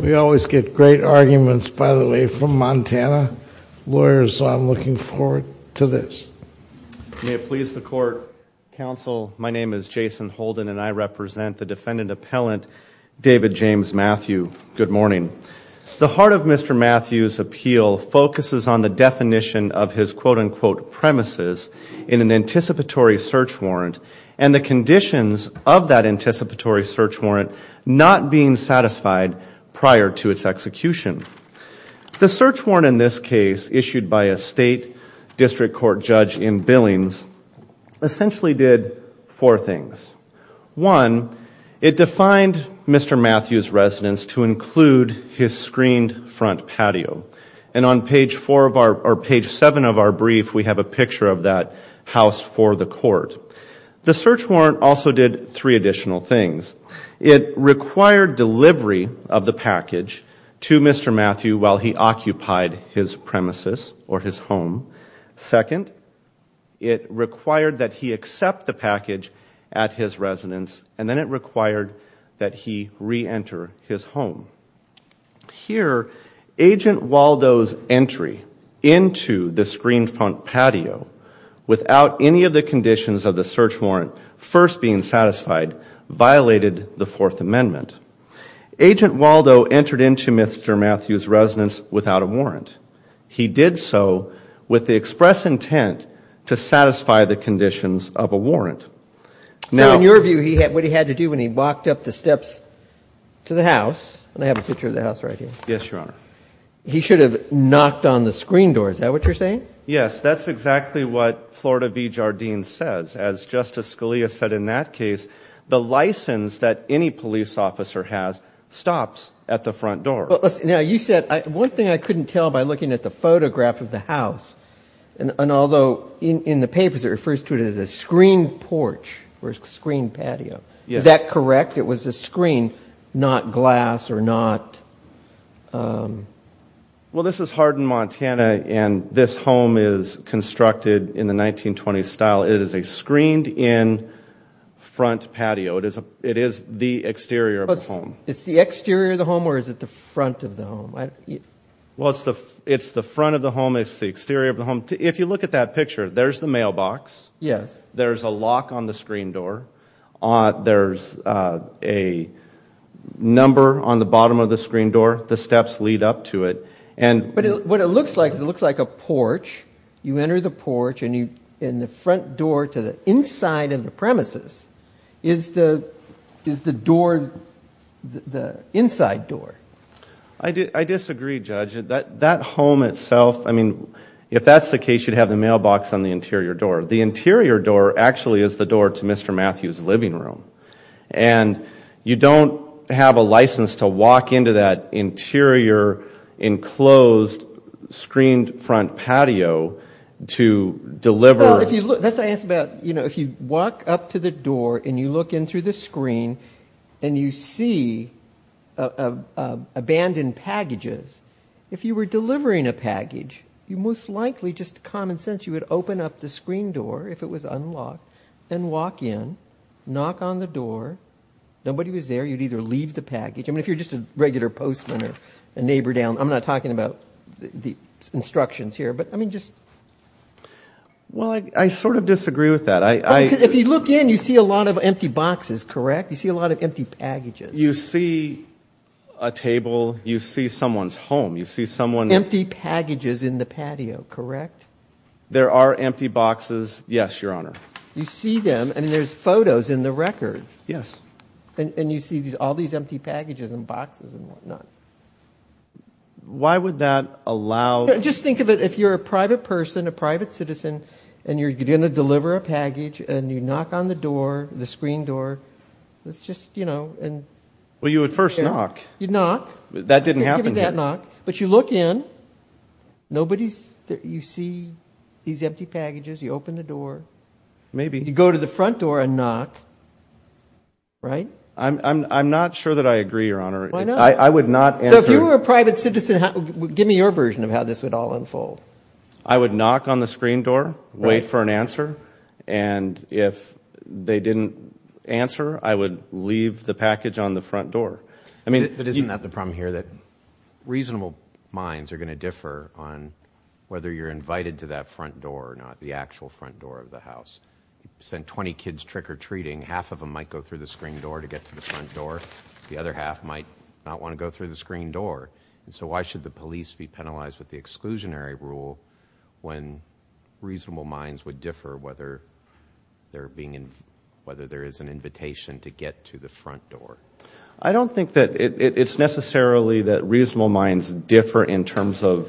We always get great arguments, by the way, from Montana lawyers. I'm looking forward to this May it please the court Counsel, my name is Jason Holden and I represent the defendant appellant David James Matthew. Good morning The heart of mr Matthews appeal focuses on the definition of his quote-unquote premises in an anticipatory search warrant and the Prior to its execution The search warrant in this case issued by a state district court judge in Billings Essentially did four things One it defined. Mr. Matthews residents to include his screened front patio and on page four of our Page seven of our brief. We have a picture of that house for the court The search warrant also did three additional things it Required delivery of the package to mr. Matthew while he occupied his premises or his home second It required that he accept the package at his residence and then it required that he re-enter his home here agent Waldo's entry into the screen front patio Without any of the conditions of the search warrant first being satisfied violated the Fourth Amendment Agent Waldo entered into mr. Matthews residence without a warrant He did so with the express intent to satisfy the conditions of a warrant Now in your view he had what he had to do when he walked up the steps To the house and I have a picture of the house right here. Yes, your honor He should have knocked on the screen door, is that what you're saying? Yes That's exactly what Florida be Jardine says as justice Scalia said in that case the license that any police officer has Stops at the front door. Now you said one thing I couldn't tell by looking at the photograph of the house and Although in the papers it refers to it as a screen porch or screen patio. Is that correct? It was a screen not glass or not Well, this is Hardin, Montana and this home is constructed in the 1920s style it is a screened in Front patio it is a it is the exterior of the home. It's the exterior of the home Or is it the front of the home? I? Well, it's the it's the front of the home. It's the exterior of the home if you look at that picture There's the mailbox. Yes, there's a lock on the screen door. Ah, there's a Number on the bottom of the screen door the steps lead up to it and but what it looks like it looks like a porch You enter the porch and you in the front door to the inside of the premises is the is the door the inside door I Did I disagree judge that that home itself? I mean if that's the case you'd have the mailbox on the interior door the interior door actually is the door to mr Matthews living room and You don't have a license to walk into that interior enclosed screened front patio to deliver if you look that's I asked about you know, if you walk up to the door and you look in through the screen and you see a Abandoned packages if you were delivering a package you most likely just common sense You would open up the screen door if it was unlocked and walk in knock on the door Nobody was there. You'd either leave the package. I mean if you're just a regular postman or a neighbor down I'm not talking about the instructions here, but I mean just Well, I sort of disagree with that I if you look in you see a lot of empty boxes, correct? You see a lot of empty packages you see a Table you see someone's home. You see someone empty packages in the patio, correct? There are empty boxes. Yes, your honor. You see them and there's photos in the record. Yes And you see these all these empty packages and boxes and whatnot Why would that allow just think of it? If you're a private person a private citizen and you're gonna deliver a package and you knock on the door the screen door It's just you know, and well you would first knock you'd knock that didn't happen that knock but you look in Nobody's there. You see these empty packages you open the door. Maybe you go to the front door and knock Right, I'm not sure that I agree your honor I would not if you were a private citizen give me your version of how this would all unfold I would knock on the screen door wait for an answer and If they didn't answer I would leave the package on the front door. I mean it isn't that the problem here that Reasonable minds are going to differ on Whether you're invited to that front door or not the actual front door of the house Sent 20 kids trick-or-treating half of them might go through the screen door to get to the front door The other half might not want to go through the screen door. And so why should the police be penalized with the exclusionary rule? when reasonable minds would differ whether They're being in whether there is an invitation to get to the front door. I don't think that it's necessarily that reasonable minds differ in terms of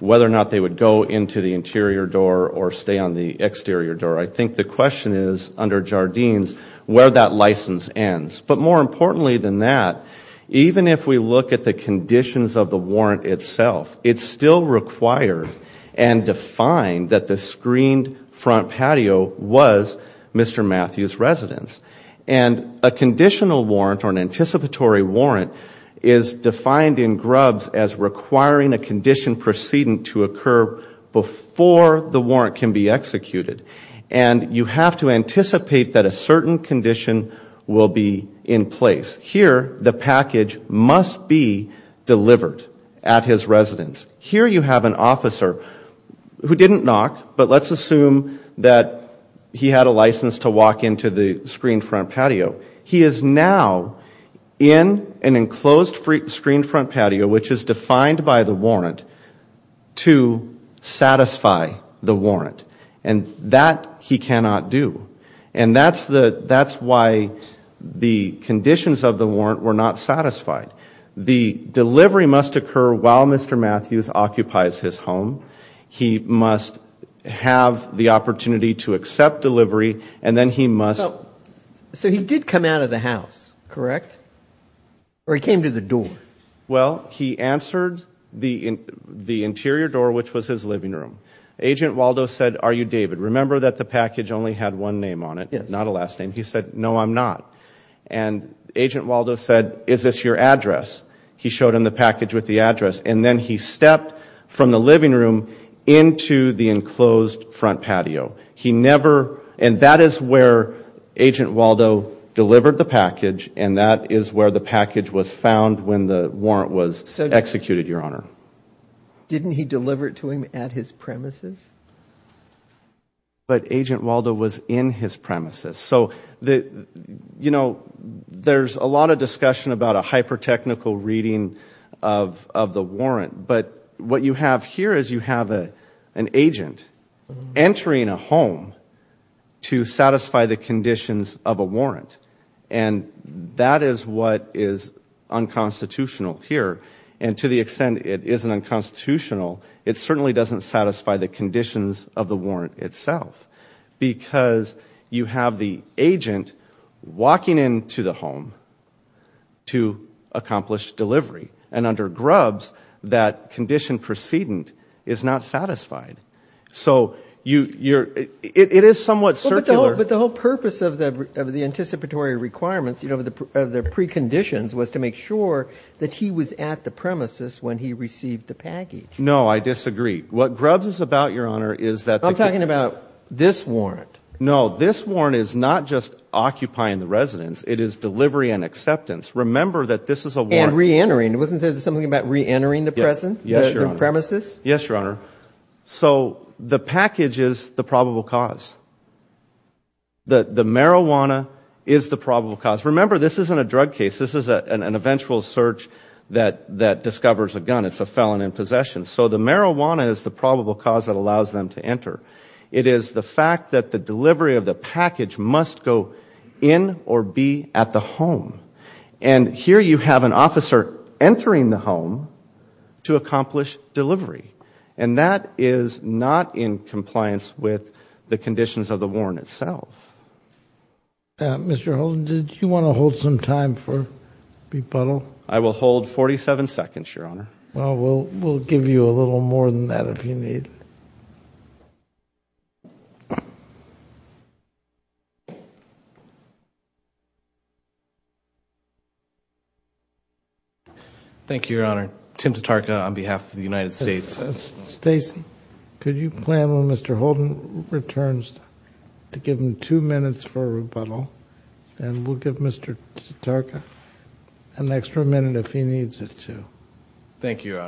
Whether or not they would go into the interior door or stay on the exterior door I think the question is under Jardines where that license ends, but more importantly than that even if we look at the conditions of the warrant itself, it's still required and Defined that the screened front patio was mr. Matthews residence and a conditional warrant or an anticipatory warrant is defined in grubs as requiring a condition precedent to occur before the warrant can be executed and You have to anticipate that a certain condition will be in place here. The package must be Delivered at his residence here. You have an officer Who didn't knock but let's assume that he had a license to walk into the screen front patio. He is now In an enclosed free screen front patio, which is defined by the warrant to Satisfy the warrant and that he cannot do and that's the that's why The conditions of the warrant were not satisfied. The delivery must occur while mr. Matthews occupies his home He must have the opportunity to accept delivery and then he must So he did come out of the house, correct? Or he came to the door well He answered the in the interior door, which was his living room agent Waldo said are you David remember that the package only had one name on it? It's not a last name. He said no, I'm not and Agent Waldo said is this your address? He showed him the package with the address and then he stepped from the living room into the enclosed front patio He never and that is where Agent Waldo delivered the package and that is where the package was found when the warrant was executed your honor Didn't he deliver it to him at his premises? But agent Waldo was in his premises so that you know there's a lot of discussion about a hyper technical reading of Of the warrant but what you have here is you have a an agent? entering a home To satisfy the conditions of a warrant and That is what is Unconstitutional here and to the extent it is an unconstitutional It certainly doesn't satisfy the conditions of the warrant itself Because you have the agent walking into the home to Accomplish delivery and under grubs that condition precedent is not satisfied So you you're it is somewhat circular but the whole purpose of the of the anticipatory requirements You know of the preconditions was to make sure that he was at the premises when he received the package No, I disagree what grubs is about your honor. Is that I'm talking about this warrant No, this warrant is not just occupying the residence. It is delivery and acceptance Remember that this is a war and re-entering it wasn't there's something about re-entering the present. Yes your premises. Yes, your honor So the package is the probable cause The the marijuana is the probable cause remember this isn't a drug case This is a an eventual search that that discovers a gun. It's a felon in possession So the marijuana is the probable cause that allows them to enter it is the fact that the delivery of the package must go in or be at the home and Here you have an officer entering the home To accomplish delivery and that is not in compliance with the conditions of the warrant itself Mr. Holden did you want to hold some time for? Repuddle, I will hold 47 seconds your honor. Well, we'll give you a little more than that if you need You Thank you, your honor Tim to Tarka on behalf of the United States Stacey could you plan when mr. Holden returns to give him two minutes for a rebuttal and We'll give mr. Tarka an extra minute if he needs it, too Thank you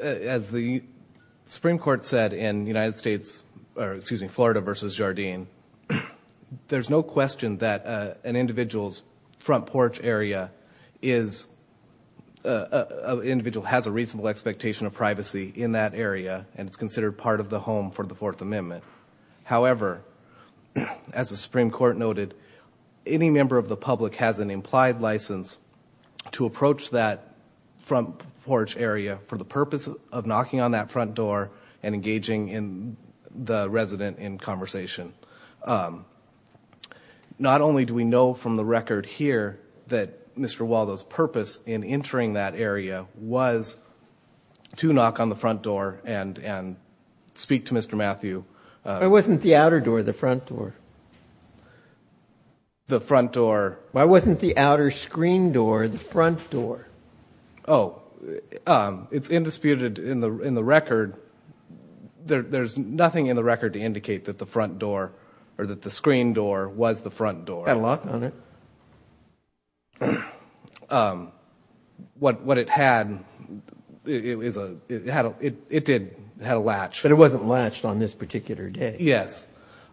As the Supreme Court said in the United States, or excuse me, Florida versus Jardine there's no question that an individual's front porch area is a Individual has a reasonable expectation of privacy in that area and it's considered part of the home for the Fourth Amendment however As the Supreme Court noted any member of the public has an implied license to approach that Front porch area for the purpose of knocking on that front door and engaging in the resident in conversation Not only do we know from the record here that mr. Waldo's purpose in entering that area was To knock on the front door and and speak to mr. Matthew. I wasn't the outer door the front door The front door why wasn't the outer screen door the front door? Oh It's indisputed in the in the record There there's nothing in the record to indicate that the front door or that the screen door was the front door and locked on it What what it had It was a it had a it did had a latch but it wasn't latched on this particular day. Yes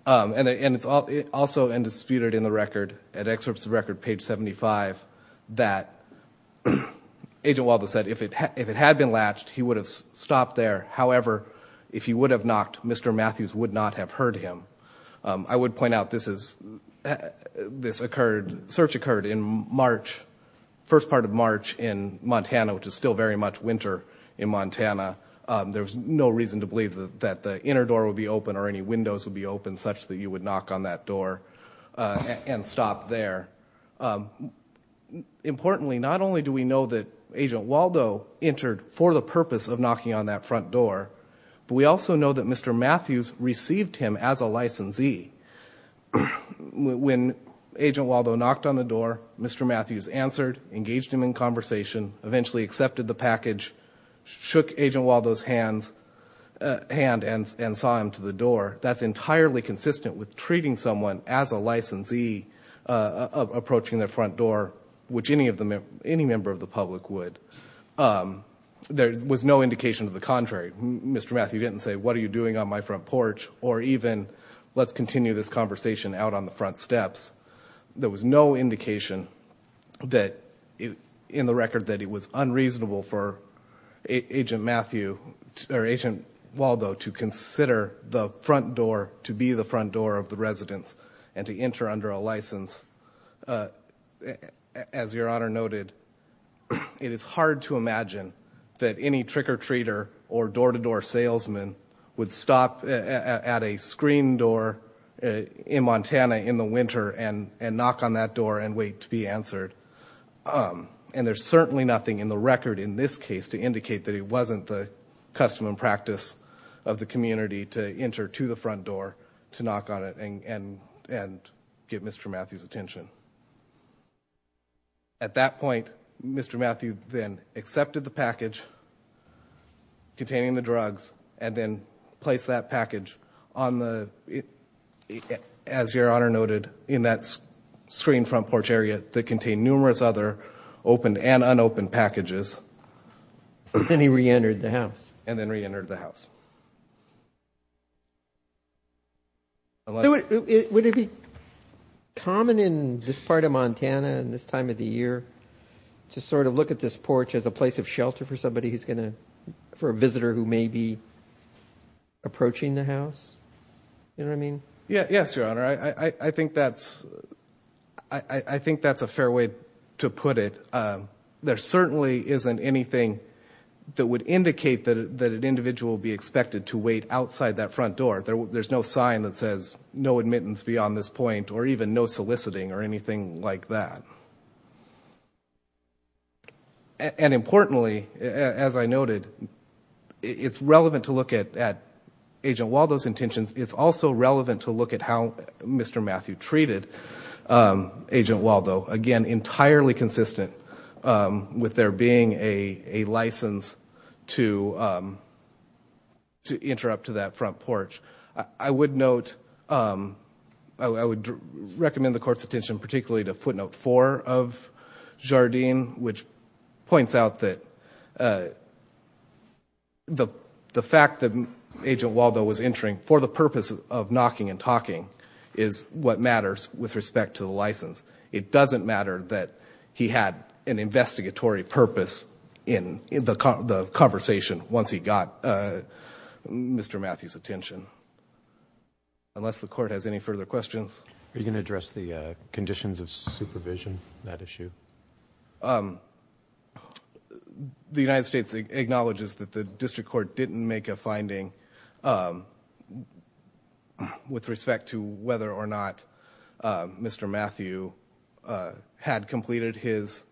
And it's all it also indisputed in the record at excerpts record page 75 that Agent Waldo said if it had been latched he would have stopped there. However, if he would have knocked mr. Matthews would not have heard him I would point out this is This occurred search occurred in March First part of March in Montana, which is still very much winter in Montana There was no reason to believe that the inner door would be open or any windows would be open such that you would knock on that door And stop there Importantly not only do we know that agent Waldo entered for the purpose of knocking on that front door But we also know that mr. Matthews received him as a licensee When agent Waldo knocked on the door, mr. Matthews answered engaged him in conversation eventually accepted the package Shook agent Waldo's hands Hand and and saw him to the door. That's entirely consistent with treating someone as a licensee Approaching their front door which any of them any member of the public would There was no indication of the contrary. Mr. Matthew didn't say what are you doing on my front porch or even? Let's continue this conversation out on the front steps There was no indication That it in the record that it was unreasonable for agent Matthew Agent Waldo to consider the front door to be the front door of the residence and to enter under a license As your honor noted It is hard to imagine that any trick-or-treater or door-to-door salesman would stop at a screen door In Montana in the winter and and knock on that door and wait to be answered And there's certainly nothing in the record in this case to indicate that it wasn't the custom and practice of the community To enter to the front door to knock on it and and and get mr. Matthews attention At that point mr. Matthew then accepted the package Containing the drugs and then placed that package on the as your honor noted in that Screen front porch area that contained numerous other opened and unopened packages And he re-entered the house and then re-entered the house Would it be Common in this part of Montana and this time of the year To sort of look at this porch as a place of shelter for somebody who's gonna for a visitor who may be Approaching the house You know, I mean, yeah. Yes, your honor. I I think that's I Think that's a fair way to put it There certainly isn't anything that would indicate that that an individual be expected to wait outside that front door There's no sign that says no admittance beyond this point or even no soliciting or anything like that And Importantly as I noted It's relevant to look at at agent Waldo's intentions. It's also relevant to look at how mr. Matthew treated agent Waldo again entirely consistent with there being a license to To interrupt to that front porch, I would note I would recommend the court's attention particularly to footnote for of Jardine which points out that The the fact that Agent Waldo was entering for the purpose of knocking and talking is what matters with respect to the license It doesn't matter that he had an investigatory purpose in the car the conversation once he got Mr. Matthews attention Unless the court has any further questions. Are you gonna address the conditions of supervision that issue? um The United States acknowledges that the district court didn't make a finding With respect to whether or not mr. Matthew had completed his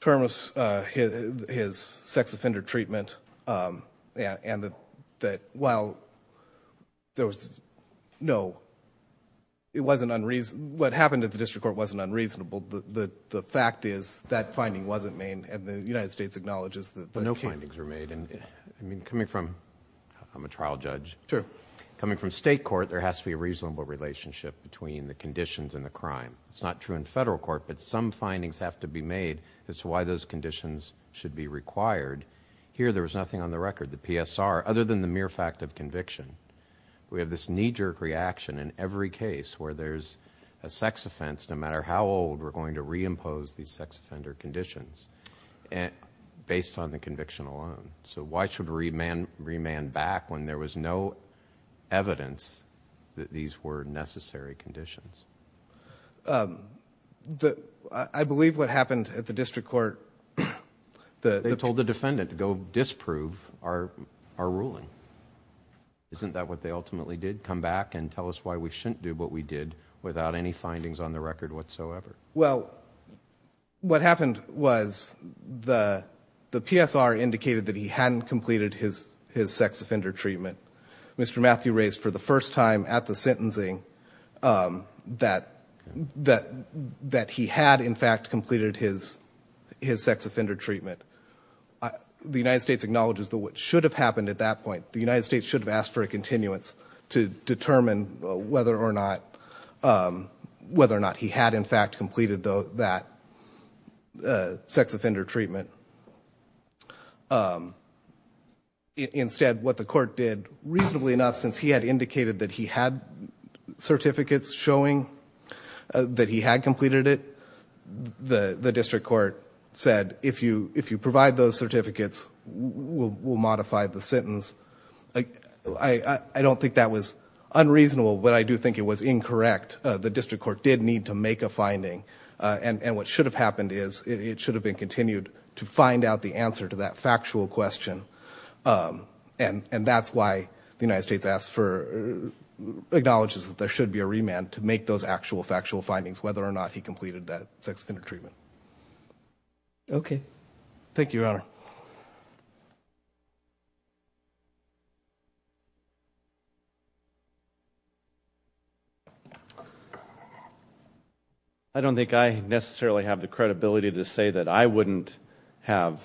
Terms his sex offender treatment and that that while There was no It wasn't unreason what happened at the district court wasn't unreasonable but the the fact is that finding wasn't main and the United States acknowledges that but no findings were made and I mean coming from I'm a trial judge. Sure coming from state court. There has to be a reasonable relationship between the conditions and the crime It's not true in federal court, but some findings have to be made. That's why those conditions should be required Here there was nothing on the record the PSR other than the mere fact of conviction We have this knee-jerk reaction in every case where there's a sex offense no matter how old we're going to reimpose these sex offender conditions and Based on the conviction alone. So why should read man remand back when there was no Evidence that these were necessary conditions The I believe what happened at the district court The they told the defendant to go disprove our our ruling Isn't that what they ultimately did come back and tell us why we shouldn't do what we did without any findings on the record whatsoever well what happened was The the PSR indicated that he hadn't completed his his sex offender treatment. Mr Matthew raised for the first time at the sentencing That that that he had in fact completed his his sex offender treatment The United States acknowledges that what should have happened at that point the United States should have asked for a continuance to determine whether or not Whether or not he had in fact completed though that sex offender treatment Instead what the court did reasonably enough since he had indicated that he had certificates showing That he had completed it The the district court said if you if you provide those certificates Will modify the sentence. I I I don't think that was Unreasonable, but I do think it was incorrect The district court did need to make a finding and and what should have happened is it should have been continued To find out the answer to that factual question and and that's why the United States asked for Acknowledges that there should be a remand to make those actual factual findings whether or not he completed that sex offender treatment Okay. Thank you, Your Honor I Don't think I necessarily have the credibility to say that I wouldn't have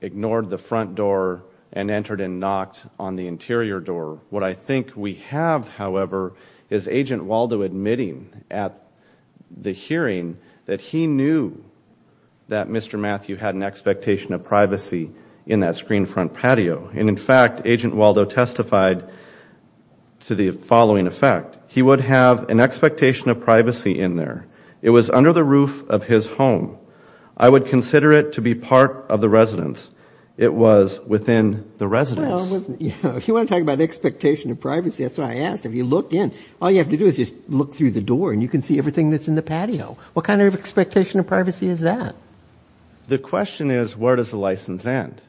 Ignored the front door and entered and knocked on the interior door what I think we have however is agent Waldo admitting at The hearing that he knew That mr. Matthew had an expectation of privacy in that screen front patio and in fact agent Waldo testified To the following effect. He would have an expectation of privacy in there. It was under the roof of his home I would consider it to be part of the residence. It was within the residence You want to talk about the expectation of privacy? That's what I asked if you looked in all you have to do is just look through the door and you can see everything That's in the patio. What kind of expectation of privacy is that? The question is where does the license end?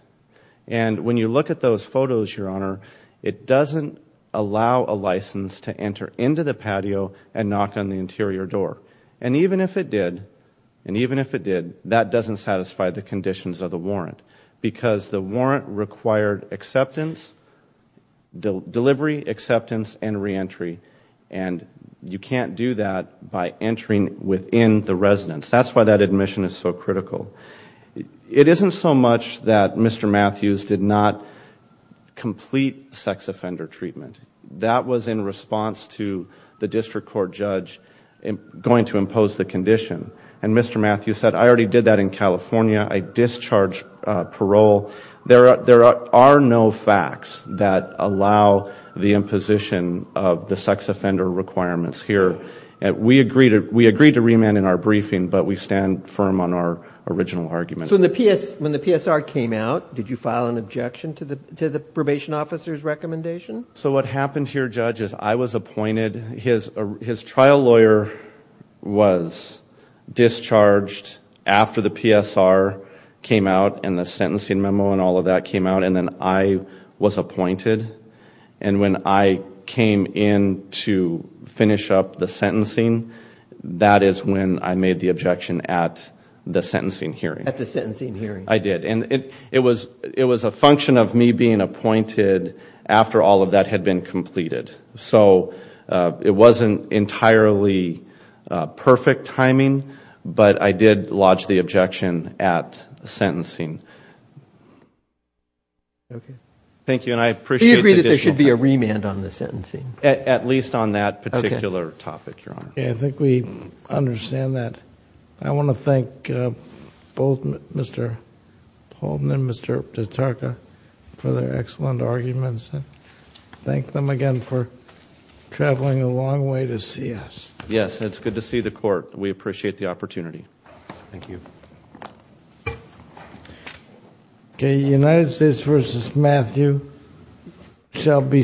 And when you look at those photos your honor It doesn't allow a license to enter into the patio and knock on the interior door And even if it did and even if it did that doesn't satisfy the conditions of the warrant because the warrant required acceptance the delivery acceptance and re-entry and You can't do that by entering within the residence. That's why that admission is so critical It isn't so much that. Mr. Matthews did not Complete sex offender treatment that was in response to the district court judge Going to impose the condition and Mr. Matthews said I already did that in California. I discharged parole There are there are no facts that allow the imposition of the sex offender requirements here And we agreed to we agreed to remand in our briefing, but we stand firm on our original argument So the PS when the PSR came out, did you file an objection to the to the probation officer's recommendation? So what happened here judge is I was appointed his his trial lawyer was discharged after the PSR came out and the sentencing memo and all of that came out and then I Was appointed and when I came in to finish up the sentencing That is when I made the objection at the sentencing hearing at the sentencing hearing I did and it it was it was a function Of me being appointed after all of that had been completed. So It wasn't entirely Perfect timing, but I did lodge the objection at the sentencing Thank you, and I appreciate there should be a remand on the sentencing at least on that particular topic Yeah, I think we understand that. I want to thank both, mr Holden and mr. Tataka for their excellent arguments and thank them again for Traveling a long way to see us. Yes. It's good to see the court. We appreciate the opportunity. Thank you Okay, United States versus Matthew shall be submitted